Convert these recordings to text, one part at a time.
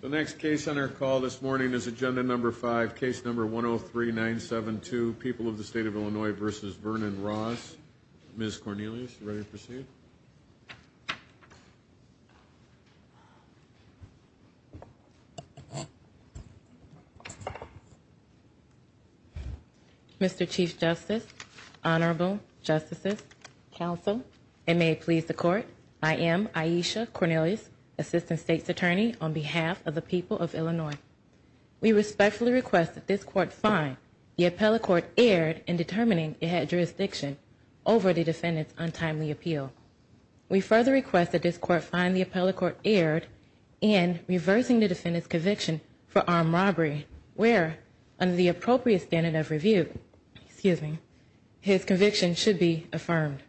The next case on our call this morning is Agenda No. 5, Case No. 103-972, People of the State of Illinois v. Vernon Ross. Ms. Cornelius, are you ready to proceed? Mr. Chief Justice, Honorable Justices, Counsel, and may it please the Court, I am Aisha Cornelius, Assistant State's Attorney, on behalf of the people of Illinois. We respectfully request that this Court find the appellate court erred in determining it had jurisdiction over the defendant's untimely appeal. We further request that this Court find the appellate court erred in reversing the defendant's conviction for armed robbery, where, under the appropriate standard of review, his conviction should be affirmed.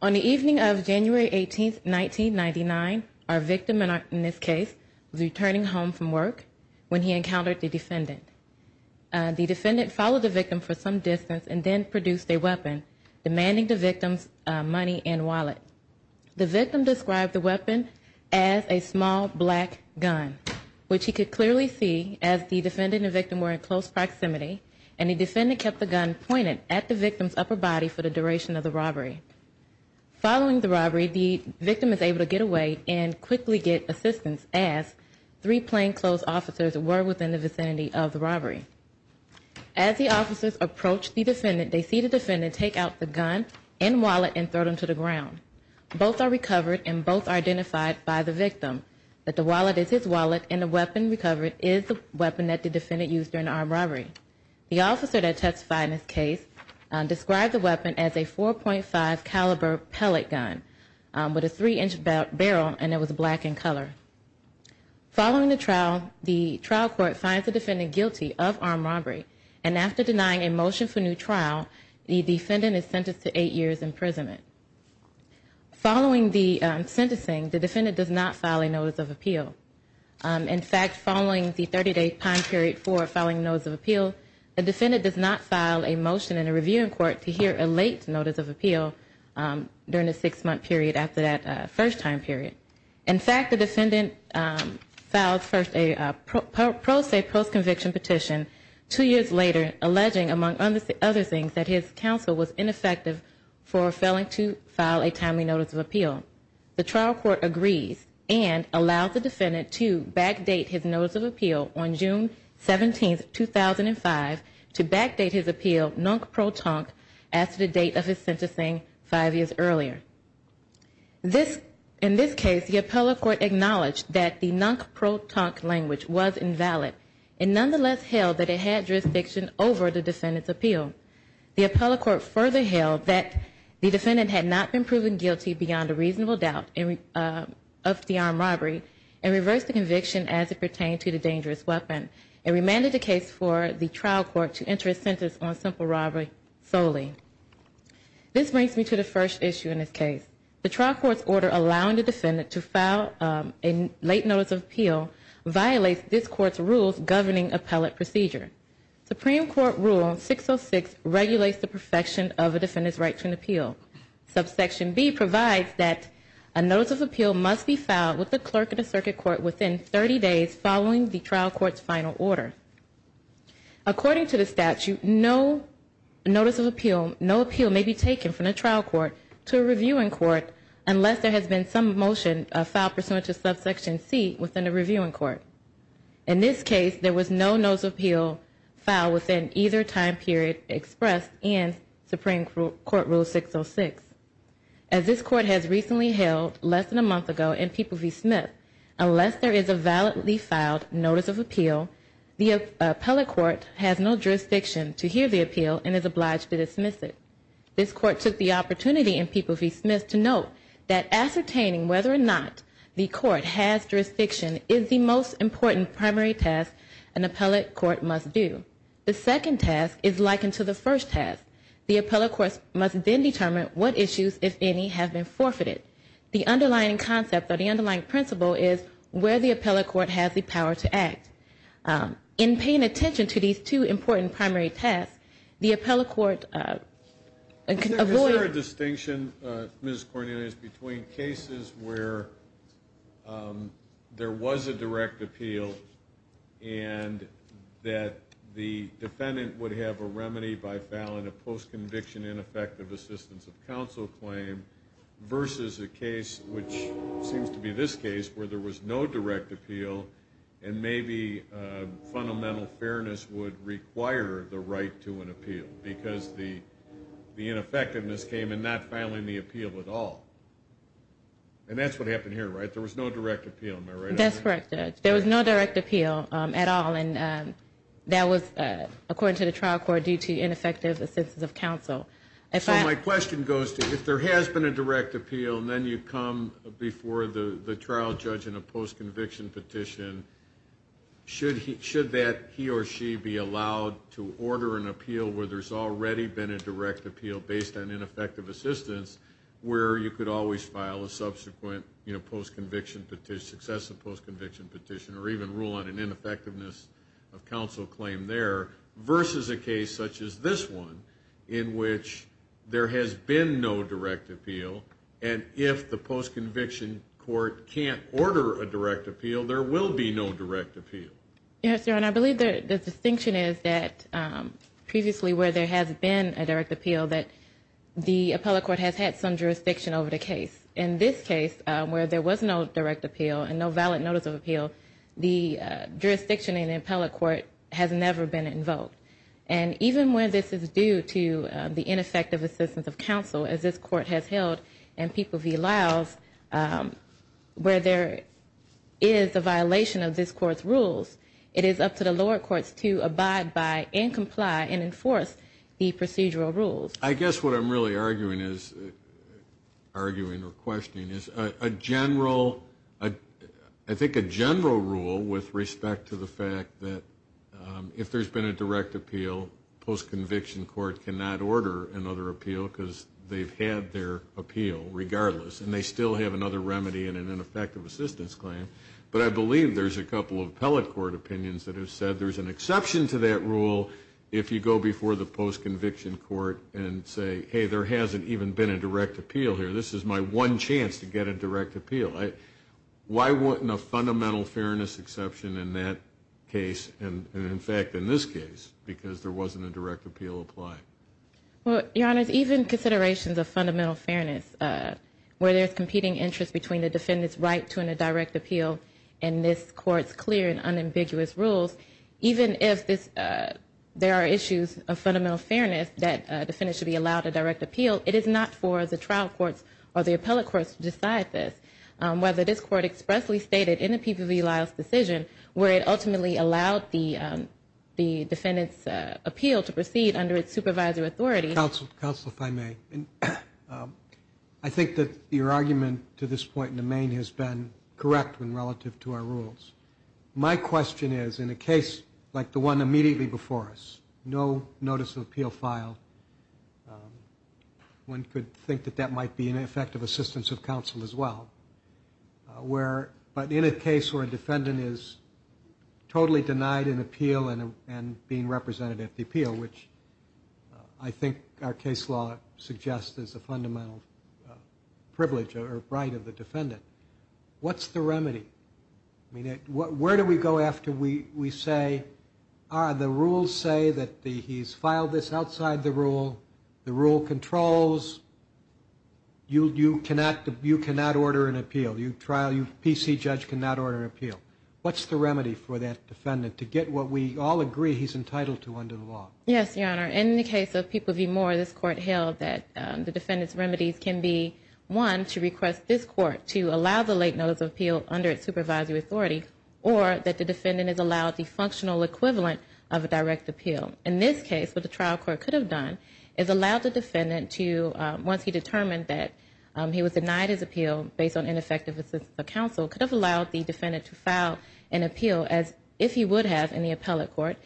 On the evening of January 18, 1999, our victim, in this case, was returning home from work when he encountered the defendant. The defendant followed the victim for some distance and then produced a weapon, demanding the victim's money and wallet. The victim described the weapon as a small black gun, which he could clearly see as the defendant and victim were in close proximity, and the defendant kept the gun pointed at the victim's upper body for the duration of the robbery. Following the robbery, the victim is able to get away and quickly get assistance, as three plainclothes officers were within the vicinity of the robbery. As the officers approach the defendant, they see the defendant take out the gun and wallet and throw them to the ground. Both are recovered and both are identified by the victim, that the wallet is his wallet and the weapon recovered is the weapon that the defendant used during the armed robbery. The officer that testified in this case described the weapon as a 4.5 caliber pellet gun with a three inch barrel and it was black in color. Following the trial, the trial court finds the defendant guilty of armed robbery and after denying a motion for new trial, the defendant is sentenced to eight years imprisonment. Following the sentencing, the defendant does not file a notice of appeal. In fact, following the 30 day time period for filing a notice of appeal, the defendant does not file a motion in a reviewing court to hear a late notice of appeal during the six month period after that first time period. In fact, the defendant filed first a pro se post conviction petition two years later alleging among other things that his counsel was ineffective for failing to file a timely notice of appeal. The trial court agrees and allows the defendant to backdate his notice of appeal on June 17th, 2005 to backdate his appeal non pro tonque as to the date of his sentencing five years earlier. In this case, the appellate court acknowledged that the non pro tonque language was invalid and nonetheless held that it had jurisdiction over the defendant's appeal. The appellate court further held that the defendant had not been proven guilty beyond a reasonable doubt of the armed robbery and reversed the conviction as it pertained to the dangerous weapon and remanded the case for the trial court to enter a sentence on simple robbery solely. This brings me to the first issue in this case. The trial court's order allowing the defendant to file a late notice of appeal violates this court's rules governing appellate procedure. Supreme Court Rule 606 regulates the perfection of a defendant's right to an appeal. Subsection B provides that a notice of appeal must be filed with the clerk of the circuit court within 30 days following the trial court's final order. According to the statute, no notice of appeal, no appeal may be taken from the trial court to a reviewing court unless there has been some motion filed pursuant to subsection C within the reviewing court. In this case, there was no notice of appeal filed within either time period expressed in Supreme Court Rule 606. As this court has recently held less than a month ago in People v. Smith, unless there is a validly filed notice of appeal, the appellate court has no jurisdiction to hear the appeal and is obliged to dismiss it. This court took the opportunity in People v. Smith to note that ascertaining whether or not the court has jurisdiction is the most important primary task an appellate court must do. The second task is likened to the first task. The appellate court must then determine what issues, if any, have been forfeited. The underlying concept or the underlying principle is where the appellate court has the power to act. In paying attention to these two important primary tasks, the appellate court can avoid a dispute. Is there a distinction, Ms. Cornelius, between cases where there was a direct appeal and that the defendant would have a remedy by filing a post-conviction ineffective assistance of counsel claim versus a case, which seems to be this case, where there was no direct appeal and maybe fundamental fairness would require the right to an appeal because the ineffectiveness came in not filing the appeal at all. And that's what happened here, right? There was no direct appeal, am I right? That's correct, Judge. There was no direct appeal at all, and that was, according to the trial court, due to ineffective assistance of counsel. So my question goes to, if there has been a direct appeal and then you come before the trial judge in a post-conviction petition, should that he or she be allowed to order an appeal where there's already been a direct appeal based on ineffective assistance where you could always file a subsequent, you know, post-conviction petition, successive post-conviction petition, or even rule on an ineffectiveness of counsel claim there versus a case such as this one in which there has been no direct appeal, and if the post-conviction court can't order a direct appeal, there will be no direct appeal? Yes, Your Honor, I believe the distinction is that previously where there has been a direct appeal that the appellate court has had some jurisdiction over the case. In this case, where there was no direct appeal and no valid notice of appeal, the jurisdiction in the appellate court has never been invoked. And even where this is due to the ineffective assistance of counsel, as this court has held and people v. Lyle's, where there is a violation of this court's rules, it is up to the lower courts to abide by and comply and enforce the procedural rules. I guess what I'm really arguing or questioning is a general, I think a general rule with respect to the fact that if there's been a direct appeal, post-conviction court cannot order another appeal because they've had their appeal regardless, and they still have another remedy in an ineffective assistance claim. But I believe there's a couple of appellate court opinions that have said there's an exception to that rule if you go before the post-conviction court and say, hey, there hasn't even been a direct appeal here. This is my one chance to get a direct appeal. Why wouldn't a fundamental fairness exception in that case, and in fact in this case, because there wasn't a direct appeal applied? Well, Your Honor, even considerations of fundamental fairness, where there's competing interest between the defendant's right to a direct appeal and this court's clear and unambiguous rules, even if there are issues of fundamental fairness that a defendant should be allowed a direct appeal, it is not for the trial courts or the appellate courts to decide this. Whether this court expressly stated in the people v. Lyle's decision where it ultimately allowed the defendant's appeal to proceed under its supervisor authority. Counsel, counsel, if I may, I think that your argument to this point in the main has been correct when relative to our rules. My question is, in a case like the one immediately before us, no notice of appeal filed, one could think that that might be an effective assistance of counsel as well. Where, but in a case where a defendant is totally denied an appeal and being represented at the appeal, which I think our case law suggests is a fundamental privilege or right of the defendant, what's the remedy? Where do we go after we say, the rules say that he's filed this outside the rule, the defendant can't order an appeal, you trial, you PC judge cannot order an appeal. What's the remedy for that defendant to get what we all agree he's entitled to under the law? Yes, your honor, in the case of people v. Moore, this court held that the defendant's remedies can be, one, to request this court to allow the late notice of appeal under its supervisory authority, or that the defendant is allowed the functional equivalent of a direct appeal. In this case, what the trial court could have done is allowed the defendant to, once he obtained an effective assistance of counsel, could have allowed the defendant to file an appeal as if he would have in the appellate court.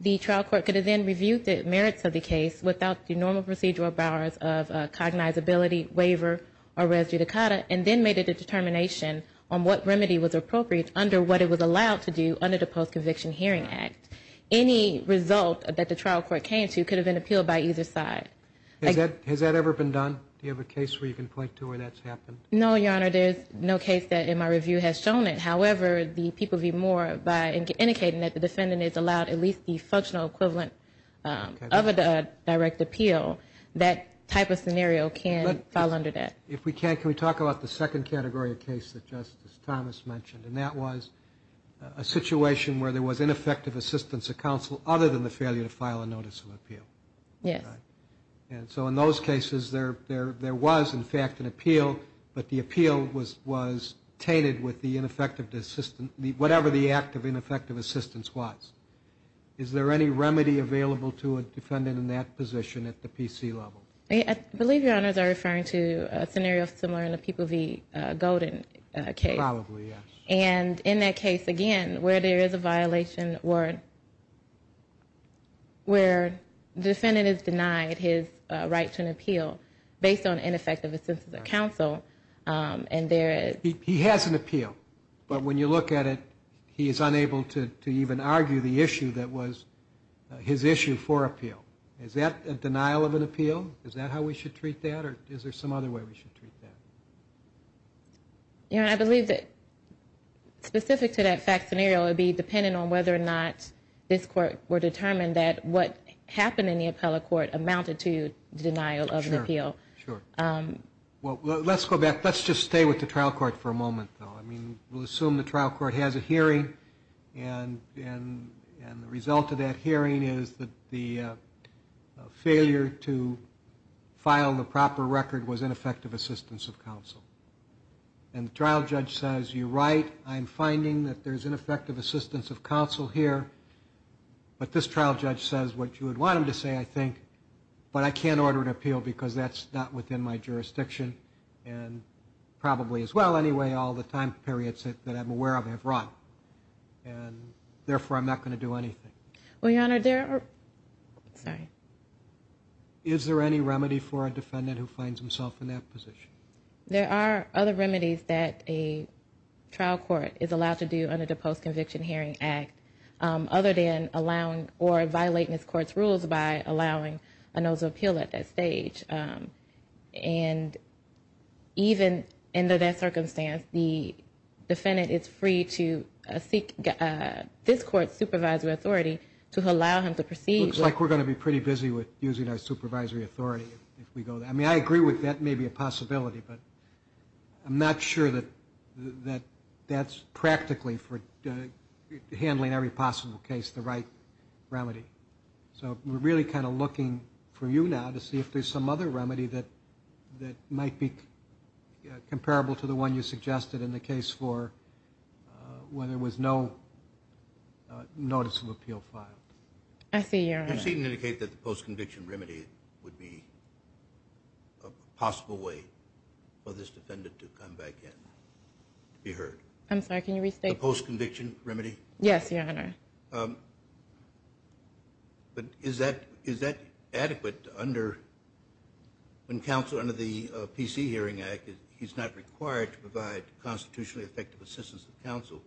The trial court could have then reviewed the merits of the case without the normal procedural powers of cognizability, waiver, or res judicata, and then made a determination on what remedy was appropriate under what it was allowed to do under the Post-Conviction Hearing Act. Any result that the trial court came to could have been appealed by either side. Has that ever been done? Do you have a case where you can point to where that's happened? No, your honor, there's no case that in my review has shown it. However, the people v. Moore, by indicating that the defendant is allowed at least the functional equivalent of a direct appeal, that type of scenario can fall under that. If we can, can we talk about the second category of case that Justice Thomas mentioned? And that was a situation where there was ineffective assistance of counsel other than the failure to file a notice of appeal. Yes. And so in those cases, there was, in fact, an appeal, but the appeal was tainted with the ineffective assistance, whatever the act of ineffective assistance was. Is there any remedy available to a defendant in that position at the PC level? I believe your honors are referring to a scenario similar in the people v. Golden case. Probably, yes. And in that case, again, where there is a violation where the defendant is denied his right to an appeal based on ineffective assistance of counsel, and there is... He has an appeal, but when you look at it, he is unable to even argue the issue that was his issue for appeal. Is that a denial of an appeal? Is that how we should treat that, or is there some other way we should treat that? Your honor, I believe that specific to that fact scenario, it would be dependent on whether or not this court were determined that what happened in the appellate court amounted to denial of an appeal. Sure. Well, let's go back. Let's just stay with the trial court for a moment, though. I mean, we'll assume the trial court has a hearing, and the result of that hearing is that the failure to file the proper record was ineffective assistance of counsel. And the trial judge says, you're right. I'm finding that there's ineffective assistance of counsel here. But this trial judge says what you would want him to say, I think. But I can't order an appeal because that's not within my jurisdiction. And probably as well, anyway, all the time periods that I'm aware of have run. And therefore, I'm not going to do anything. Well, your honor, there are, sorry. Is there any remedy for a defendant who finds himself in that position? There are other remedies that a trial court is allowed to do under the Post-Conviction Hearing Act, other than allowing or violating this court's rules by allowing a notice of appeal at that stage. And even in that circumstance, the defendant is free to seek this court's supervisory authority to allow him to proceed. Looks like we're going to be pretty busy with using our supervisory authority if we go there. I mean, I agree with that may be a possibility, but I'm not sure that that's practically for handling every possible case the right remedy. So we're really kind of looking for you now to see if there's some other remedy that might be comparable to the one you suggested in the case for when there was no notice of appeal filed. I see, your honor. You seem to indicate that the post-conviction remedy would be a possible way for this defendant to come back in, to be heard. I'm sorry, can you restate? The post-conviction remedy? Yes, your honor. But is that adequate under, when counsel under the PC Hearing Act, he's not required to provide constitutionally effective assistance to counsel,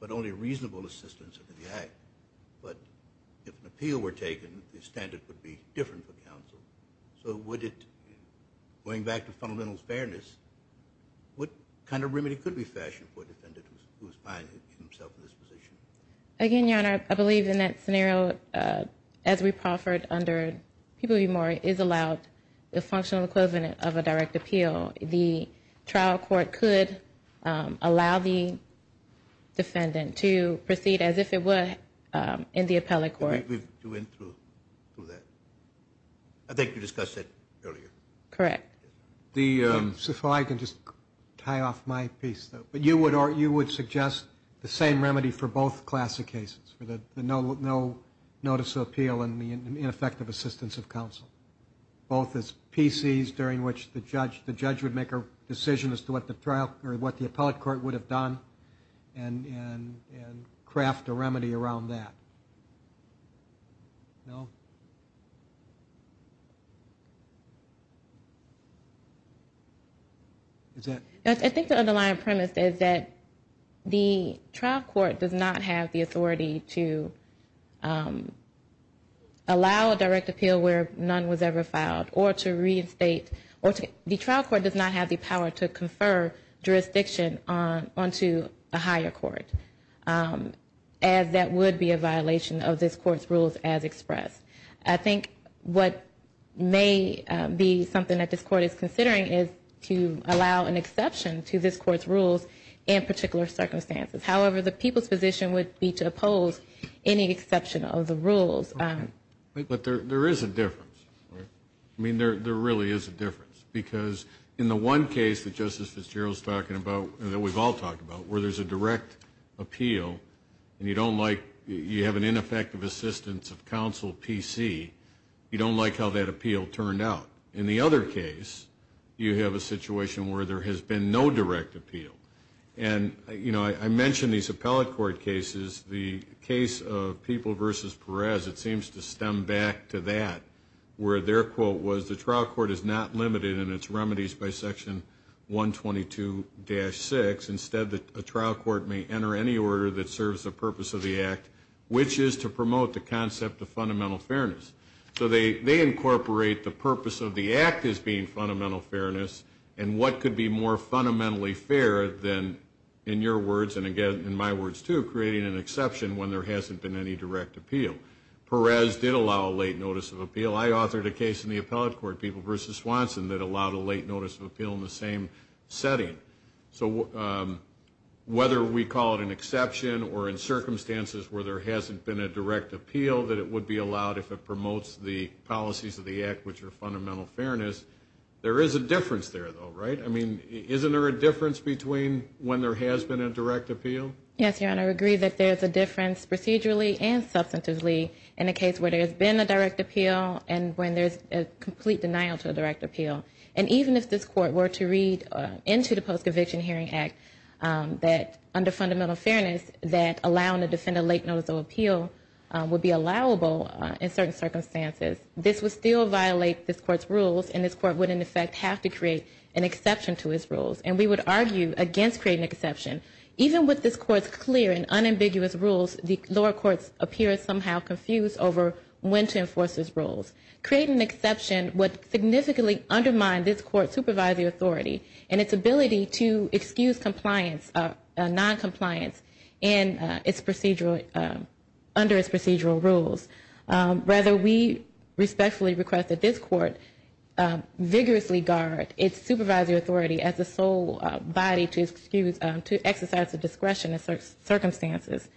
but only reasonable assistance under the act. But if an appeal were taken, the standard would be different for counsel. So would it, going back to fundamental fairness, what kind of remedy could be fashioned for a defendant who is finding himself in this position? Again, your honor, I believe in that scenario, as we proffered under People v. Moore, is allowed the functional equivalent of a direct appeal. The trial court could allow the defendant to proceed as if it were in the appellate court. We went through that. I think you discussed that earlier. Correct. So if I can just tie off my piece, though. You would suggest the same remedy for both classic cases, for the no notice of appeal and the ineffective assistance of counsel. Both as PCs during which the judge would make a decision as to what the trial, or what the appellate court would have done, and craft a remedy around that. No? I think the underlying premise is that the trial court does not have the authority to allow a direct appeal where none was ever filed, or to reinstate, or the trial court does not have the power to confer jurisdiction onto a higher court, as that would be a violation of this court's rules as expressed. I think what may be something that this court is considering is to allow an exception to this court's rules in particular circumstances. However, the people's position would be to oppose any exception of the rules. But there is a difference. I mean, there really is a difference. Because in the one case that Justice Fitzgerald is talking about, that we've all talked about, where there's a direct appeal, and you don't like, you have an ineffective assistance of counsel PC, you don't like how that appeal turned out. In the other case, you have a situation where there has been no direct appeal. And, you know, I mentioned these appellate court cases. The case of People v. Perez, it seems to stem back to that, where their quote was the trial court is not limited in its remedies by section 122-6. Instead, a trial court may enter any order that serves the purpose of the act, which is to promote the concept of fundamental fairness. So they incorporate the purpose of the act as being fundamental fairness, and what could be more fundamentally fair than, in your words, and again, in my words too, creating an exception when there hasn't been any direct appeal. Perez did allow a late notice of appeal. I authored a case in the appellate court, People v. Swanson, that allowed a late notice of appeal in the same setting. So whether we call it an exception or in circumstances where there hasn't been a direct appeal, that it would be allowed if it promotes the policies of the act, which are fundamental fairness. There is a difference there, though, right? I mean, isn't there a difference between when there has been a direct appeal? Yes, Your Honor, I agree that there's a difference procedurally and substantively in a case where there's been a direct appeal and when there's a complete denial to a direct appeal. And even if this court were to read into the Post-Conviction Hearing Act that, under fundamental fairness, that allowing a defendant late notice of appeal would be allowable in certain circumstances, this would still violate this court's rules and this court would, in effect, have to create an exception to its rules. And we would argue against creating an exception. Even with this court's clear and unambiguous rules, the lower courts appear somehow confused over when to enforce its rules. Creating an exception would significantly undermine this court's supervisory authority and its ability to excuse noncompliance under its procedural rules. Rather, we respectfully request that this court vigorously guard its supervisory authority as the sole body to excuse, to exercise the discretion in certain circumstances.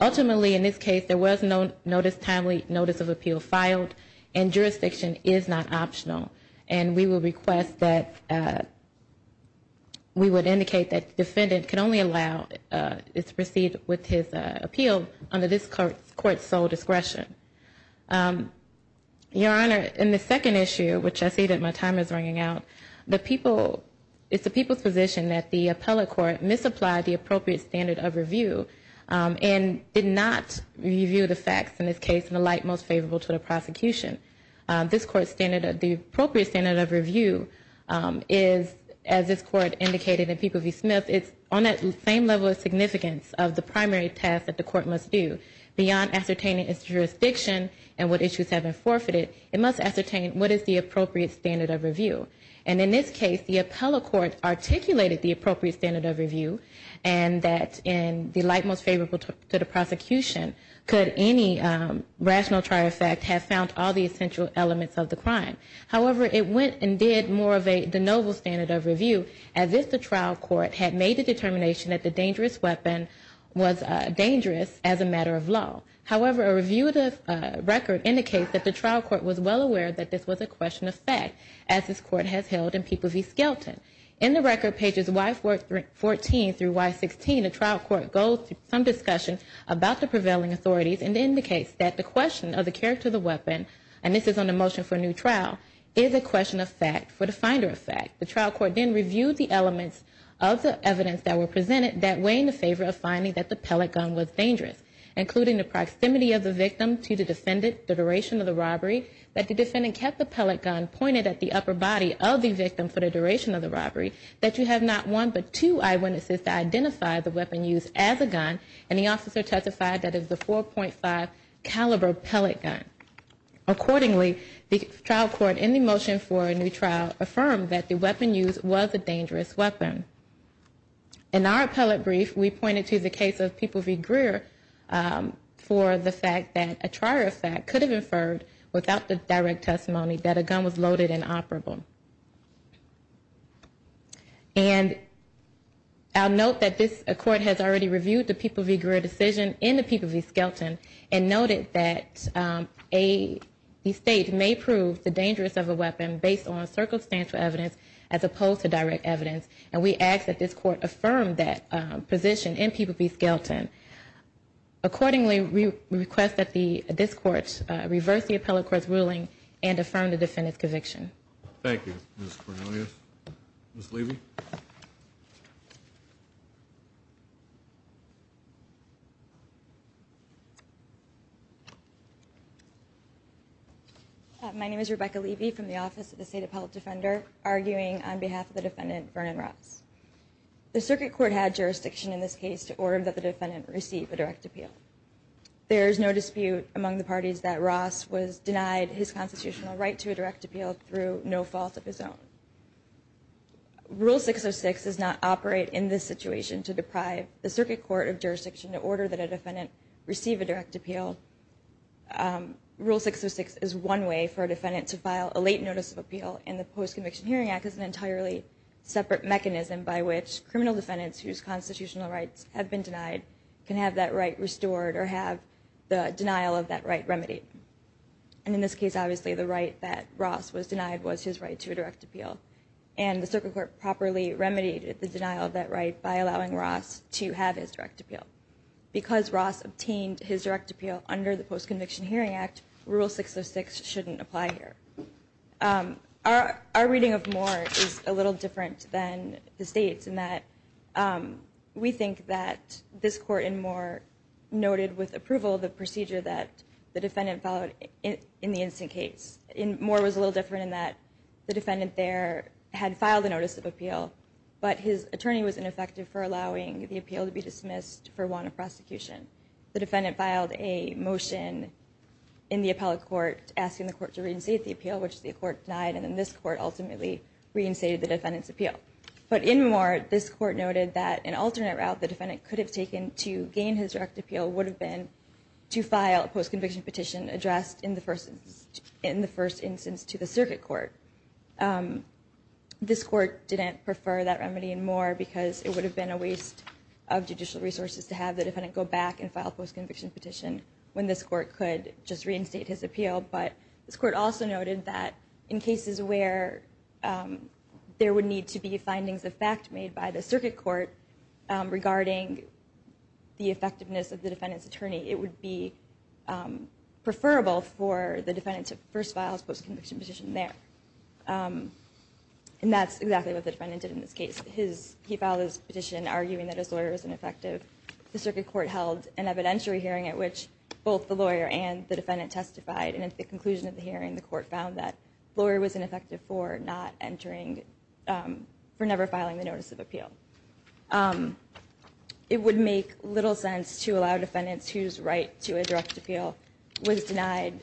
Ultimately, in this case, there was no notice, timely notice of appeal filed, and jurisdiction is not optional. And we would request that, we would indicate that the defendant can only allow, is to proceed with his appeal under this court's sole discretion. Your Honor, in the second issue, which I see that my timer is ringing out, it's the people's position that the appellate court misapplied the appropriate standard of review and did not review the facts in this case in the light most favorable to the prosecution. This court's standard, the appropriate standard of review is, as this court indicated in Peeble v. Smith, it's on that same level of significance of the primary task that the court must do. Beyond ascertaining its jurisdiction and what issues have been forfeited, it must ascertain what is the appropriate standard of review. And in this case, the appellate court articulated the appropriate standard of review and that in the light most favorable to the prosecution, could any rational trial effect have found all the essential elements of the crime. However, it went and did more of a de novo standard of review, as if the trial court had made the determination that the dangerous weapon was dangerous as a matter of law. However, a review of the record indicates that the trial court was well aware that this was a question of fact, as this court has held in Peeble v. Skelton. In the record, pages Y14 through Y16, the trial court goes through some discussion about the prevailing authorities and indicates that the question of the character of the weapon, and this is on the motion for a new trial, is a question of fact for the finder of fact. The trial court then reviewed the elements of the evidence that were presented that weigh in the favor of finding that the pellet gun was dangerous, including the proximity of the victim to the defendant, the duration of the robbery, that the defendant kept the pellet gun pointed at the upper body of the victim for the duration of the robbery, that you have not one but two eyewitnesses to identify the weapon used as a gun, and the officer testified that it was a 4.5 caliber pellet gun. Accordingly, the trial court, in the motion for a new trial, affirmed that the weapon used was a dangerous weapon. In our appellate brief, we pointed to the case of Peeble v. Greer for the fact that a trial of fact could have inferred without the direct testimony that a gun was loaded and operable. And I'll note that this court has already reviewed the Peeble v. Greer decision in the Peeble v. Skelton and noted that the state may prove the dangerous of a weapon based on circumstantial evidence as opposed to direct evidence, and we ask that this court affirm that position in Peeble v. Skelton. Accordingly, we request that this court reverse the appellate court's ruling and affirm the defendant's conviction. Thank you, Ms. Cornelius. Ms. Levy. My name is Rebecca Levy from the Office of the State Appellate Defender, arguing on behalf of the defendant, Vernon Ross. The circuit court had jurisdiction in this case to order that the defendant receive a direct appeal. There is no dispute among the parties that Ross was denied his constitutional right to a direct appeal through no fault of his own. Rule 606 does not operate in this situation to deprive the circuit court of jurisdiction to order that a defendant receive a direct appeal. Rule 606 is one way for a defendant to file a late notice of appeal, and the Post-Conviction Hearing Act is an entirely separate mechanism by which criminal defendants whose constitutional rights have been denied can have that right restored or have the denial of that right remedied. And in this case, obviously, the right that Ross was denied was his right to a direct appeal, and the circuit court properly remedied the denial of that right by allowing Ross to have his direct appeal. Because Ross obtained his direct appeal under the Post-Conviction Hearing Act, Rule 606 shouldn't apply here. Our reading of Moore is a little different than the State's, in that we think that this Court in Moore noted with approval the procedure that the defendant followed in the instant case. Moore was a little different in that the defendant there had filed a notice of appeal, but his attorney was ineffective for allowing the appeal to be dismissed for want of prosecution. The defendant filed a motion in the appellate court asking the court to reinstate the appeal, which the court denied, and then this court ultimately reinstated the defendant's appeal. But in Moore, this court noted that an alternate route the defendant could have taken to gain his direct appeal would have been to file a post-conviction petition addressed in the first instance to the circuit court. This court didn't prefer that remedy in Moore because it would have been a waste of judicial resources to have the defendant go back and file a post-conviction petition when this court could just reinstate his appeal. But this court also noted that in cases where there would need to be findings of fact made by the circuit court regarding the effectiveness of the defendant's attorney, it would be preferable for the defendant to first file a post-conviction petition there. And that's exactly what the defendant did in this case. He filed his petition arguing that his lawyer was ineffective. The circuit court held an evidentiary hearing at which both the lawyer and the defendant testified. And at the conclusion of the hearing, the court found that the lawyer was ineffective for not entering, for never filing the notice of appeal. It would make little sense to allow defendants whose right to a direct appeal was denied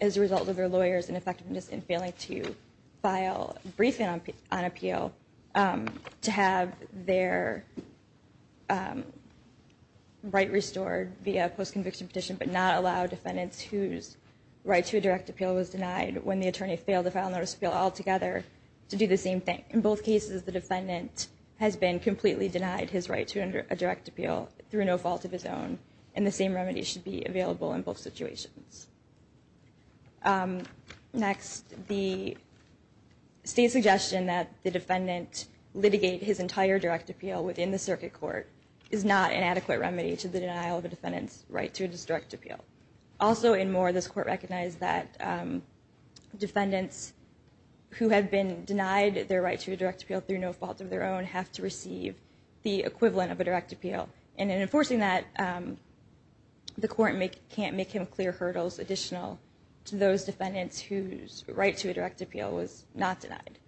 as a result of their lawyer's ineffectiveness in failing to file a briefing on appeal to have their right restored via a post-conviction petition, but not allow defendants whose right to a direct appeal was denied when the attorney failed to file a notice of appeal altogether to do the same thing. In both cases, the defendant has been completely denied his right to a direct appeal through no fault of his own. And the same remedy should be available in both situations. Next, the state's suggestion that the defendant litigate his entire direct appeal within the circuit court is not an adequate remedy to the denial of a defendant's right to a direct appeal. Also, in Moore, this court recognized that defendants who had been denied their right to a direct appeal through no fault of their own have to receive the equivalent of a direct appeal. And in enforcing that, the court can't make him clear hurdles additional to those defendants whose right to a direct appeal was not denied.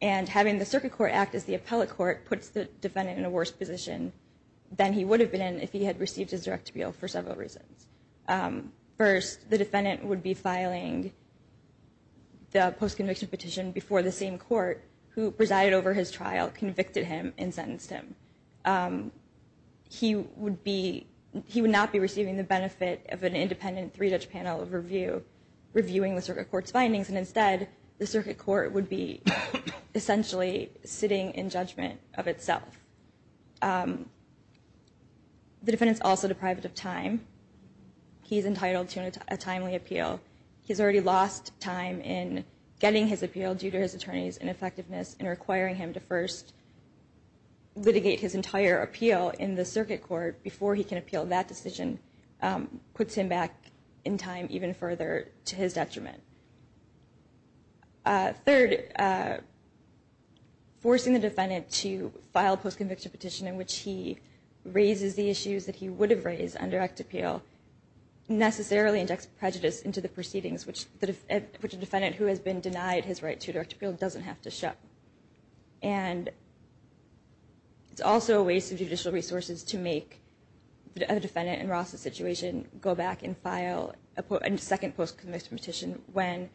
And having the circuit court act as the appellate court puts the defendant in a worse position than he would have been if he had received his direct appeal for several reasons. First, the defendant would be filing the post-conviction petition before the same court who presided over his trial convicted him and sentenced him. He would not be receiving the benefit of an independent three-judge panel review, reviewing the circuit court's findings, and instead, the circuit court would be essentially sitting in judgment of itself. The defendant's also deprived of time. He's entitled to a timely appeal. He's already lost time in getting his appeal due to his attorney's ineffectiveness and requiring him to first litigate his entire appeal in the circuit court before he can appeal that decision puts him back in time even further to his detriment. Third, forcing the defendant to file a post-conviction petition in which he raises the issues that he would have raised on direct appeal necessarily injects prejudice into the proceedings, which a defendant who has been denied his right to direct appeal doesn't have to show. And it's also a waste of judicial resources to make a defendant in Ross' situation go back and file a second post-conviction petition when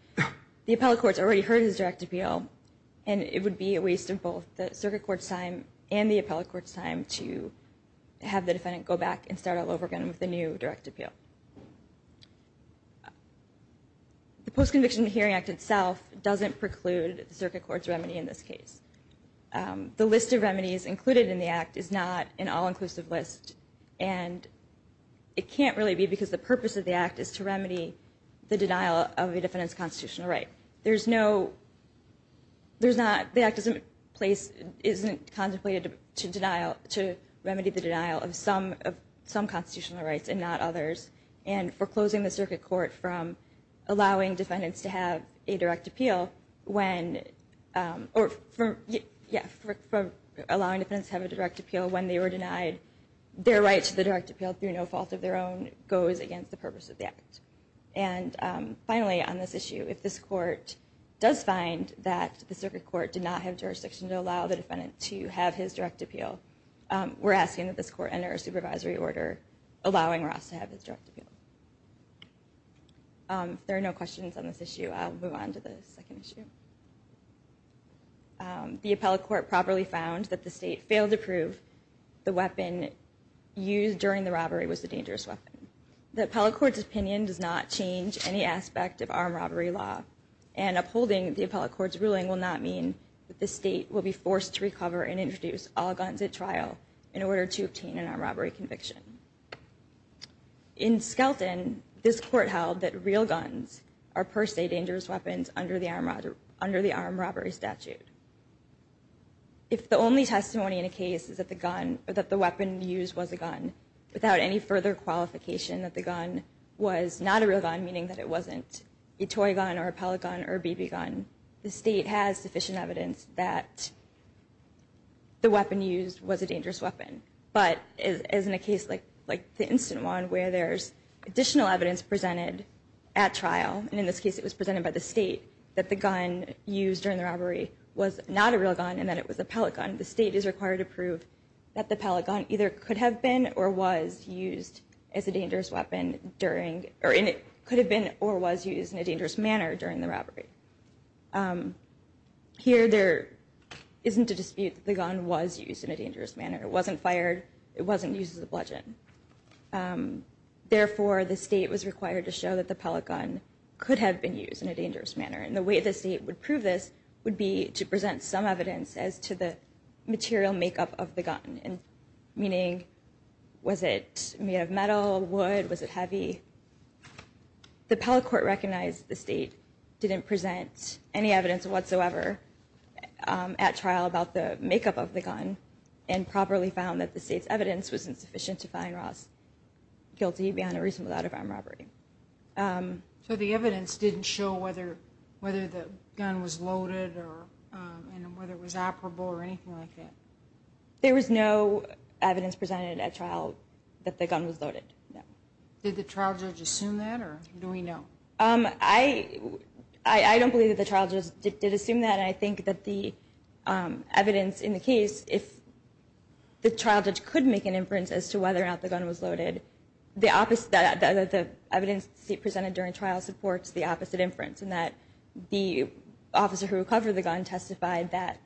the appellate court's already heard his direct appeal and it would be a waste of both the circuit court's time and the appellate court's time to have the defendant go back and start all over again with a new direct appeal. The Post-Conviction Hearing Act itself doesn't preclude the circuit court's remedy in this case. The list of remedies included in the act is not an all-inclusive list, and it can't really be because the purpose of the act is to remedy the denial of a defendant's constitutional right. The act isn't contemplated to remedy the denial of some constitutional rights and not others, and for closing the circuit court from allowing defendants to have a direct appeal when they were denied their right to the direct appeal through no fault of their own goes against the purpose of the act. And finally on this issue, if this court does find that the circuit court did not have jurisdiction to allow the defendant to have his direct appeal, we're asking that this court enter a supervisory order allowing Ross to have his direct appeal. If there are no questions on this issue, I'll move on to the second issue. The appellate court properly found that the state failed to prove the weapon used during the robbery was a dangerous weapon. The appellate court's opinion does not change any aspect of armed robbery law, and upholding the appellate court's ruling will not mean that the state will be forced to recover and introduce all guns at trial in order to obtain an armed robbery conviction. In Skelton, this court held that real guns are per se dangerous weapons under the armed robbery statute. If the only testimony in a case is that the weapon used was a gun, without any further qualification that the gun was not a real gun, meaning that it wasn't a toy gun or a pellet gun or a BB gun, the state has sufficient evidence that the weapon used was a dangerous weapon. But as in a case like the instant one where there's additional evidence presented at trial, and in this case it was presented by the state, that the gun used during the robbery was not a real gun and that it was a pellet gun, the state is required to prove that the pellet gun either could have been or was used as a dangerous weapon during, or could have been or was used in a dangerous manner during the robbery. Here there isn't a dispute that the gun was used in a dangerous manner. It wasn't fired, it wasn't used as a bludgeon. Therefore the state was required to show that the pellet gun could have been used in a dangerous manner and the way the state would prove this would be to present some evidence as to the material makeup of the gun, meaning was it made of metal, wood, was it heavy. The pellet court recognized the state didn't present any evidence whatsoever at trial about the makeup of the gun and properly found that the state's evidence was insufficient to find Ross guilty beyond a reasonable doubt of armed robbery. So the evidence didn't show whether the gun was loaded and whether it was operable or anything like that? There was no evidence presented at trial that the gun was loaded. Did the trial judge assume that or do we know? I don't believe the trial judge did assume that and I think that the evidence in the case, if the trial judge could make an inference as to whether or not the gun was loaded, the evidence presented during trial supports the opposite inference in that the officer who recovered the gun testified that,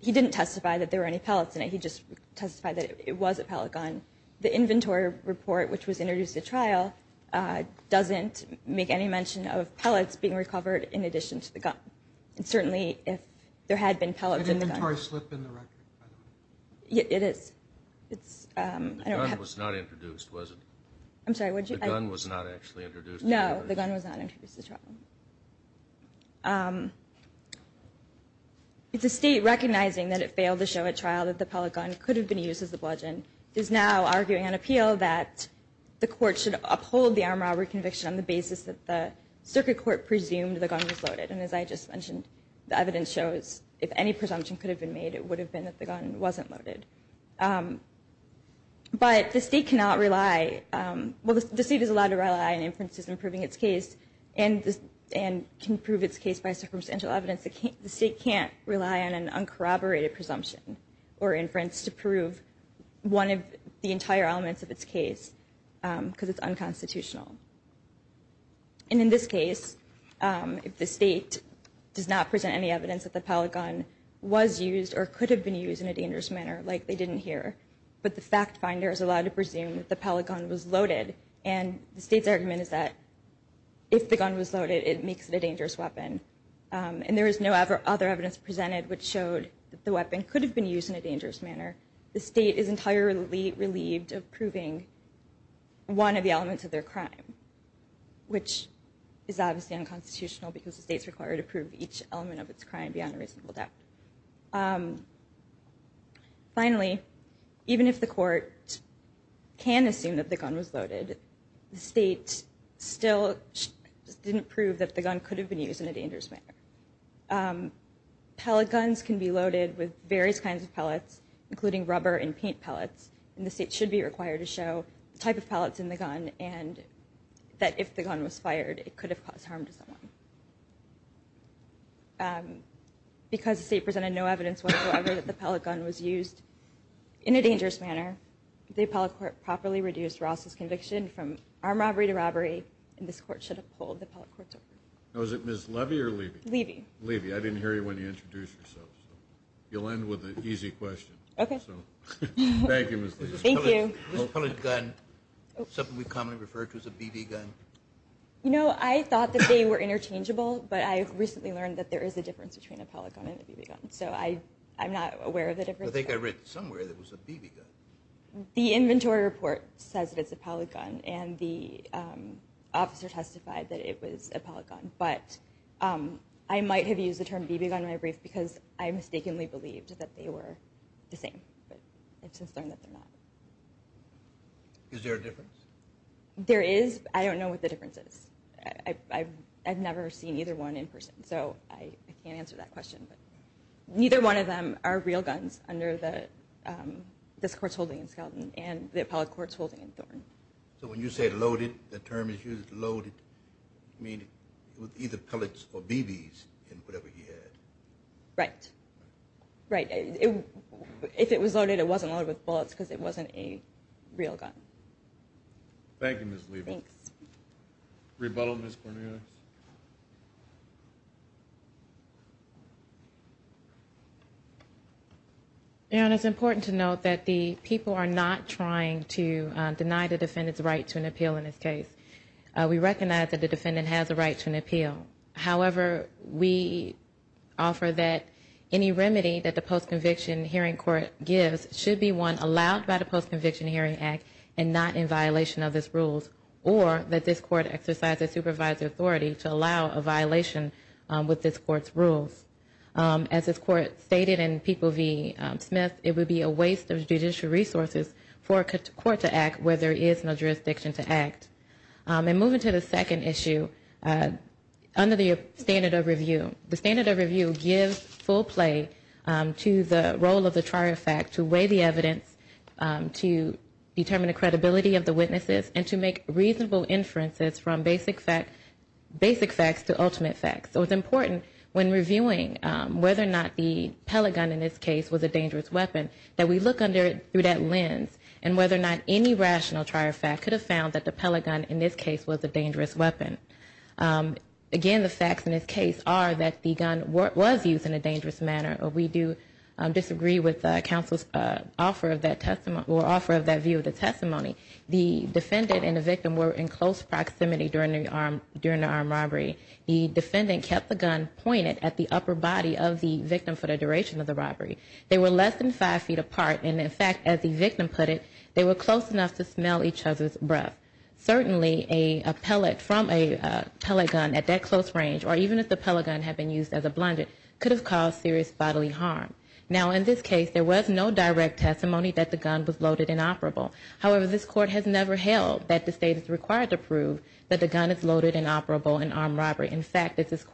he didn't testify that there were any pellets in it, he just testified that it was a pellet gun. The inventory report which was introduced at trial doesn't make any mention of pellets being recovered in addition to the gun and certainly if there had been pellets in the gun. It's a hard slip in the record. The gun was not introduced, was it? No, the gun was not introduced at trial. It's a state recognizing that it failed to show at trial that the pellet gun could have been used as a bludgeon is now arguing on appeal that the court should uphold the armed robbery conviction on the basis that the circuit court presumed the gun was loaded and as I just mentioned, the evidence shows if any presumption could have been made, it would have been that the gun wasn't loaded. But the state cannot rely, well the state is allowed to rely on inferences in proving its case and can prove its case by circumstantial evidence. The state can't rely on an uncorroborated presumption or inference to prove one of the entire elements of its case because it's unconstitutional. And in this case, if the state does not present any evidence that the pellet gun was used or could have been used in a dangerous manner like they didn't hear, but the fact finder is allowed to presume that the pellet gun was loaded and the state's argument is that if the gun was loaded, it makes it a dangerous weapon and there is no other evidence presented which showed that the weapon could have been used in a dangerous manner. The state is entirely relieved of proving one of the elements of their crime, which is obviously unconstitutional because the state's required to prove each element of its crime beyond a reasonable doubt. Finally, even if the court can assume that the gun was loaded, the state still didn't prove that the gun could have been used in a dangerous manner. Pellet guns can be loaded with various kinds of pellets, including rubber and paint pellets, and the state should be required to show the type of pellets in the gun and that if the gun was fired, it could have caused harm to someone. Because the state presented no evidence whatsoever that the pellet gun was used in a dangerous manner, the appellate court properly reduced Ross's conviction from armed robbery to robbery, and this court should have pulled the appellate courts over. Was it Ms. Levy or Levy? Levy. Levy. I didn't hear you when you introduced yourself, so you'll end with an easy question. Okay. Thank you, Ms. Levy. Thank you. Is a pellet gun something we commonly refer to as a BB gun? You know, I thought that they were interchangeable, but I recently learned that there is a difference between a pellet gun and a BB gun, so I'm not aware of the difference. I think I read somewhere that it was a BB gun. The inventory report says that it's a pellet gun, and the officer testified that it was a pellet gun, but I might have used the term BB gun in my brief because I mistakenly believed that they were the same, but I've since learned that they're not. Is there a difference? There is, but I don't know what the difference is. I've never seen either one in person, so I can't answer that question. Neither one of them are real guns under this court's holding in Skelton and the appellate court's holding in Thorne. So when you say loaded, the term is used loaded, you mean it was either pellets or BBs in whatever he had? Right. Right. If it was loaded, it wasn't loaded with bullets because it wasn't a real gun. Thank you, Ms. Levy. Thanks. Rebuttal, Ms. Cornelius? It's important to note that the people are not trying to deny the defendant's right to an appeal in this case. We recognize that the defendant has a right to an appeal. However, we offer that any remedy that the post-conviction hearing court gives should be one allowed by the Post-Conviction Hearing Act and not in violation of these rules, or that this court exercise the supervisory authority to allow a violation with this court's rules. As this court stated in People v. Smith, it would be a waste of judicial resources for a court to act where there is no jurisdiction to act. And moving to the second issue, under the standard of review, the standard of review gives full play to the role of the trial fact to weigh the evidence, to determine the credibility of the witnesses, and to make reasonable inferences from basic facts to ultimate facts. So it's important when reviewing whether or not the pellet gun in this case was a dangerous weapon that we look under it through that lens and whether or not any rational trial fact could have found that the pellet gun in this case was a dangerous weapon. Again, the facts in this case are that the gun was used in a dangerous manner, or we do disagree with the counsel's offer of that view of the testimony. The defendant and the victim were in close proximity during the armed robbery. The defendant kept the gun pointed at the upper body of the victim for the duration of the robbery. They were less than five feet apart, and in fact, as the victim put it, they were close enough to smell each other's breath. Certainly a pellet from a pellet gun at that close range, or even if the pellet gun had been used as a blunt, it could have caused serious bodily harm. Now, in this case, there was no direct testimony that the gun was loaded and operable. However, this court has never held that the state is required to prove that the gun is loaded and operable in armed robbery. In fact, this is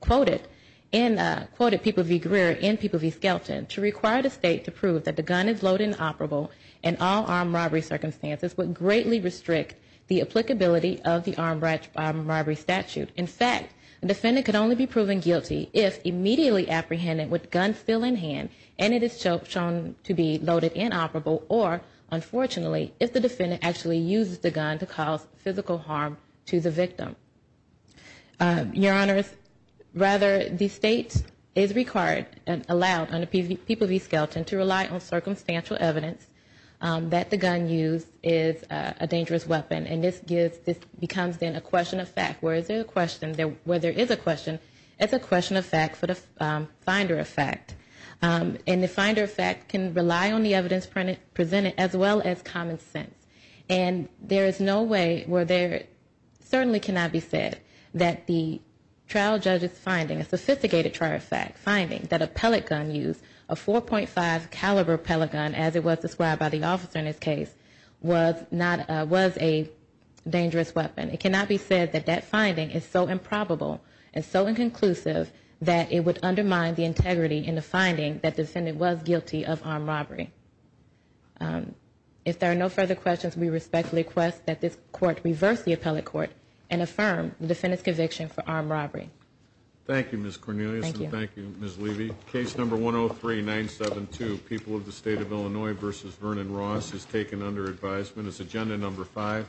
quoted in People v. Greer in People v. Skelton, to require the state to prove that the gun is loaded and operable in all armed robbery circumstances would greatly restrict the applicability of the armed robbery statute. In fact, the defendant could only be proven guilty if immediately apprehended with the gun still in hand and it is shown to be loaded and operable, or unfortunately, if the defendant actually uses the gun to cause physical harm to the victim. Your Honors, rather, the state is required and allowed under People v. Skelton to rely on circumstantial evidence that the gun used is a dangerous weapon, and this becomes then a question of fact. Where there is a question, it's a question of fact for the finder of fact. And the finder of fact can rely on the evidence presented as well as common sense. And there is no way where there certainly cannot be said that the trial judge's finding, a sophisticated trial of fact, finding that a pellet gun used, a 4.5 caliber pellet gun as it was described by the officer in this case, was a dangerous weapon. It cannot be said that that finding is so improbable and so inconclusive that it would undermine the integrity in the finding that the defendant was guilty of armed robbery. If there are no further questions, we respectfully request that this Court reverse the Appellate Court and affirm the defendant's conviction for armed robbery. Thank you, Ms. Cornelius, and thank you, Ms. Levy. Case number 103-972, People of the State of Illinois v. Vernon Ross is taken under advisement as agenda number 5.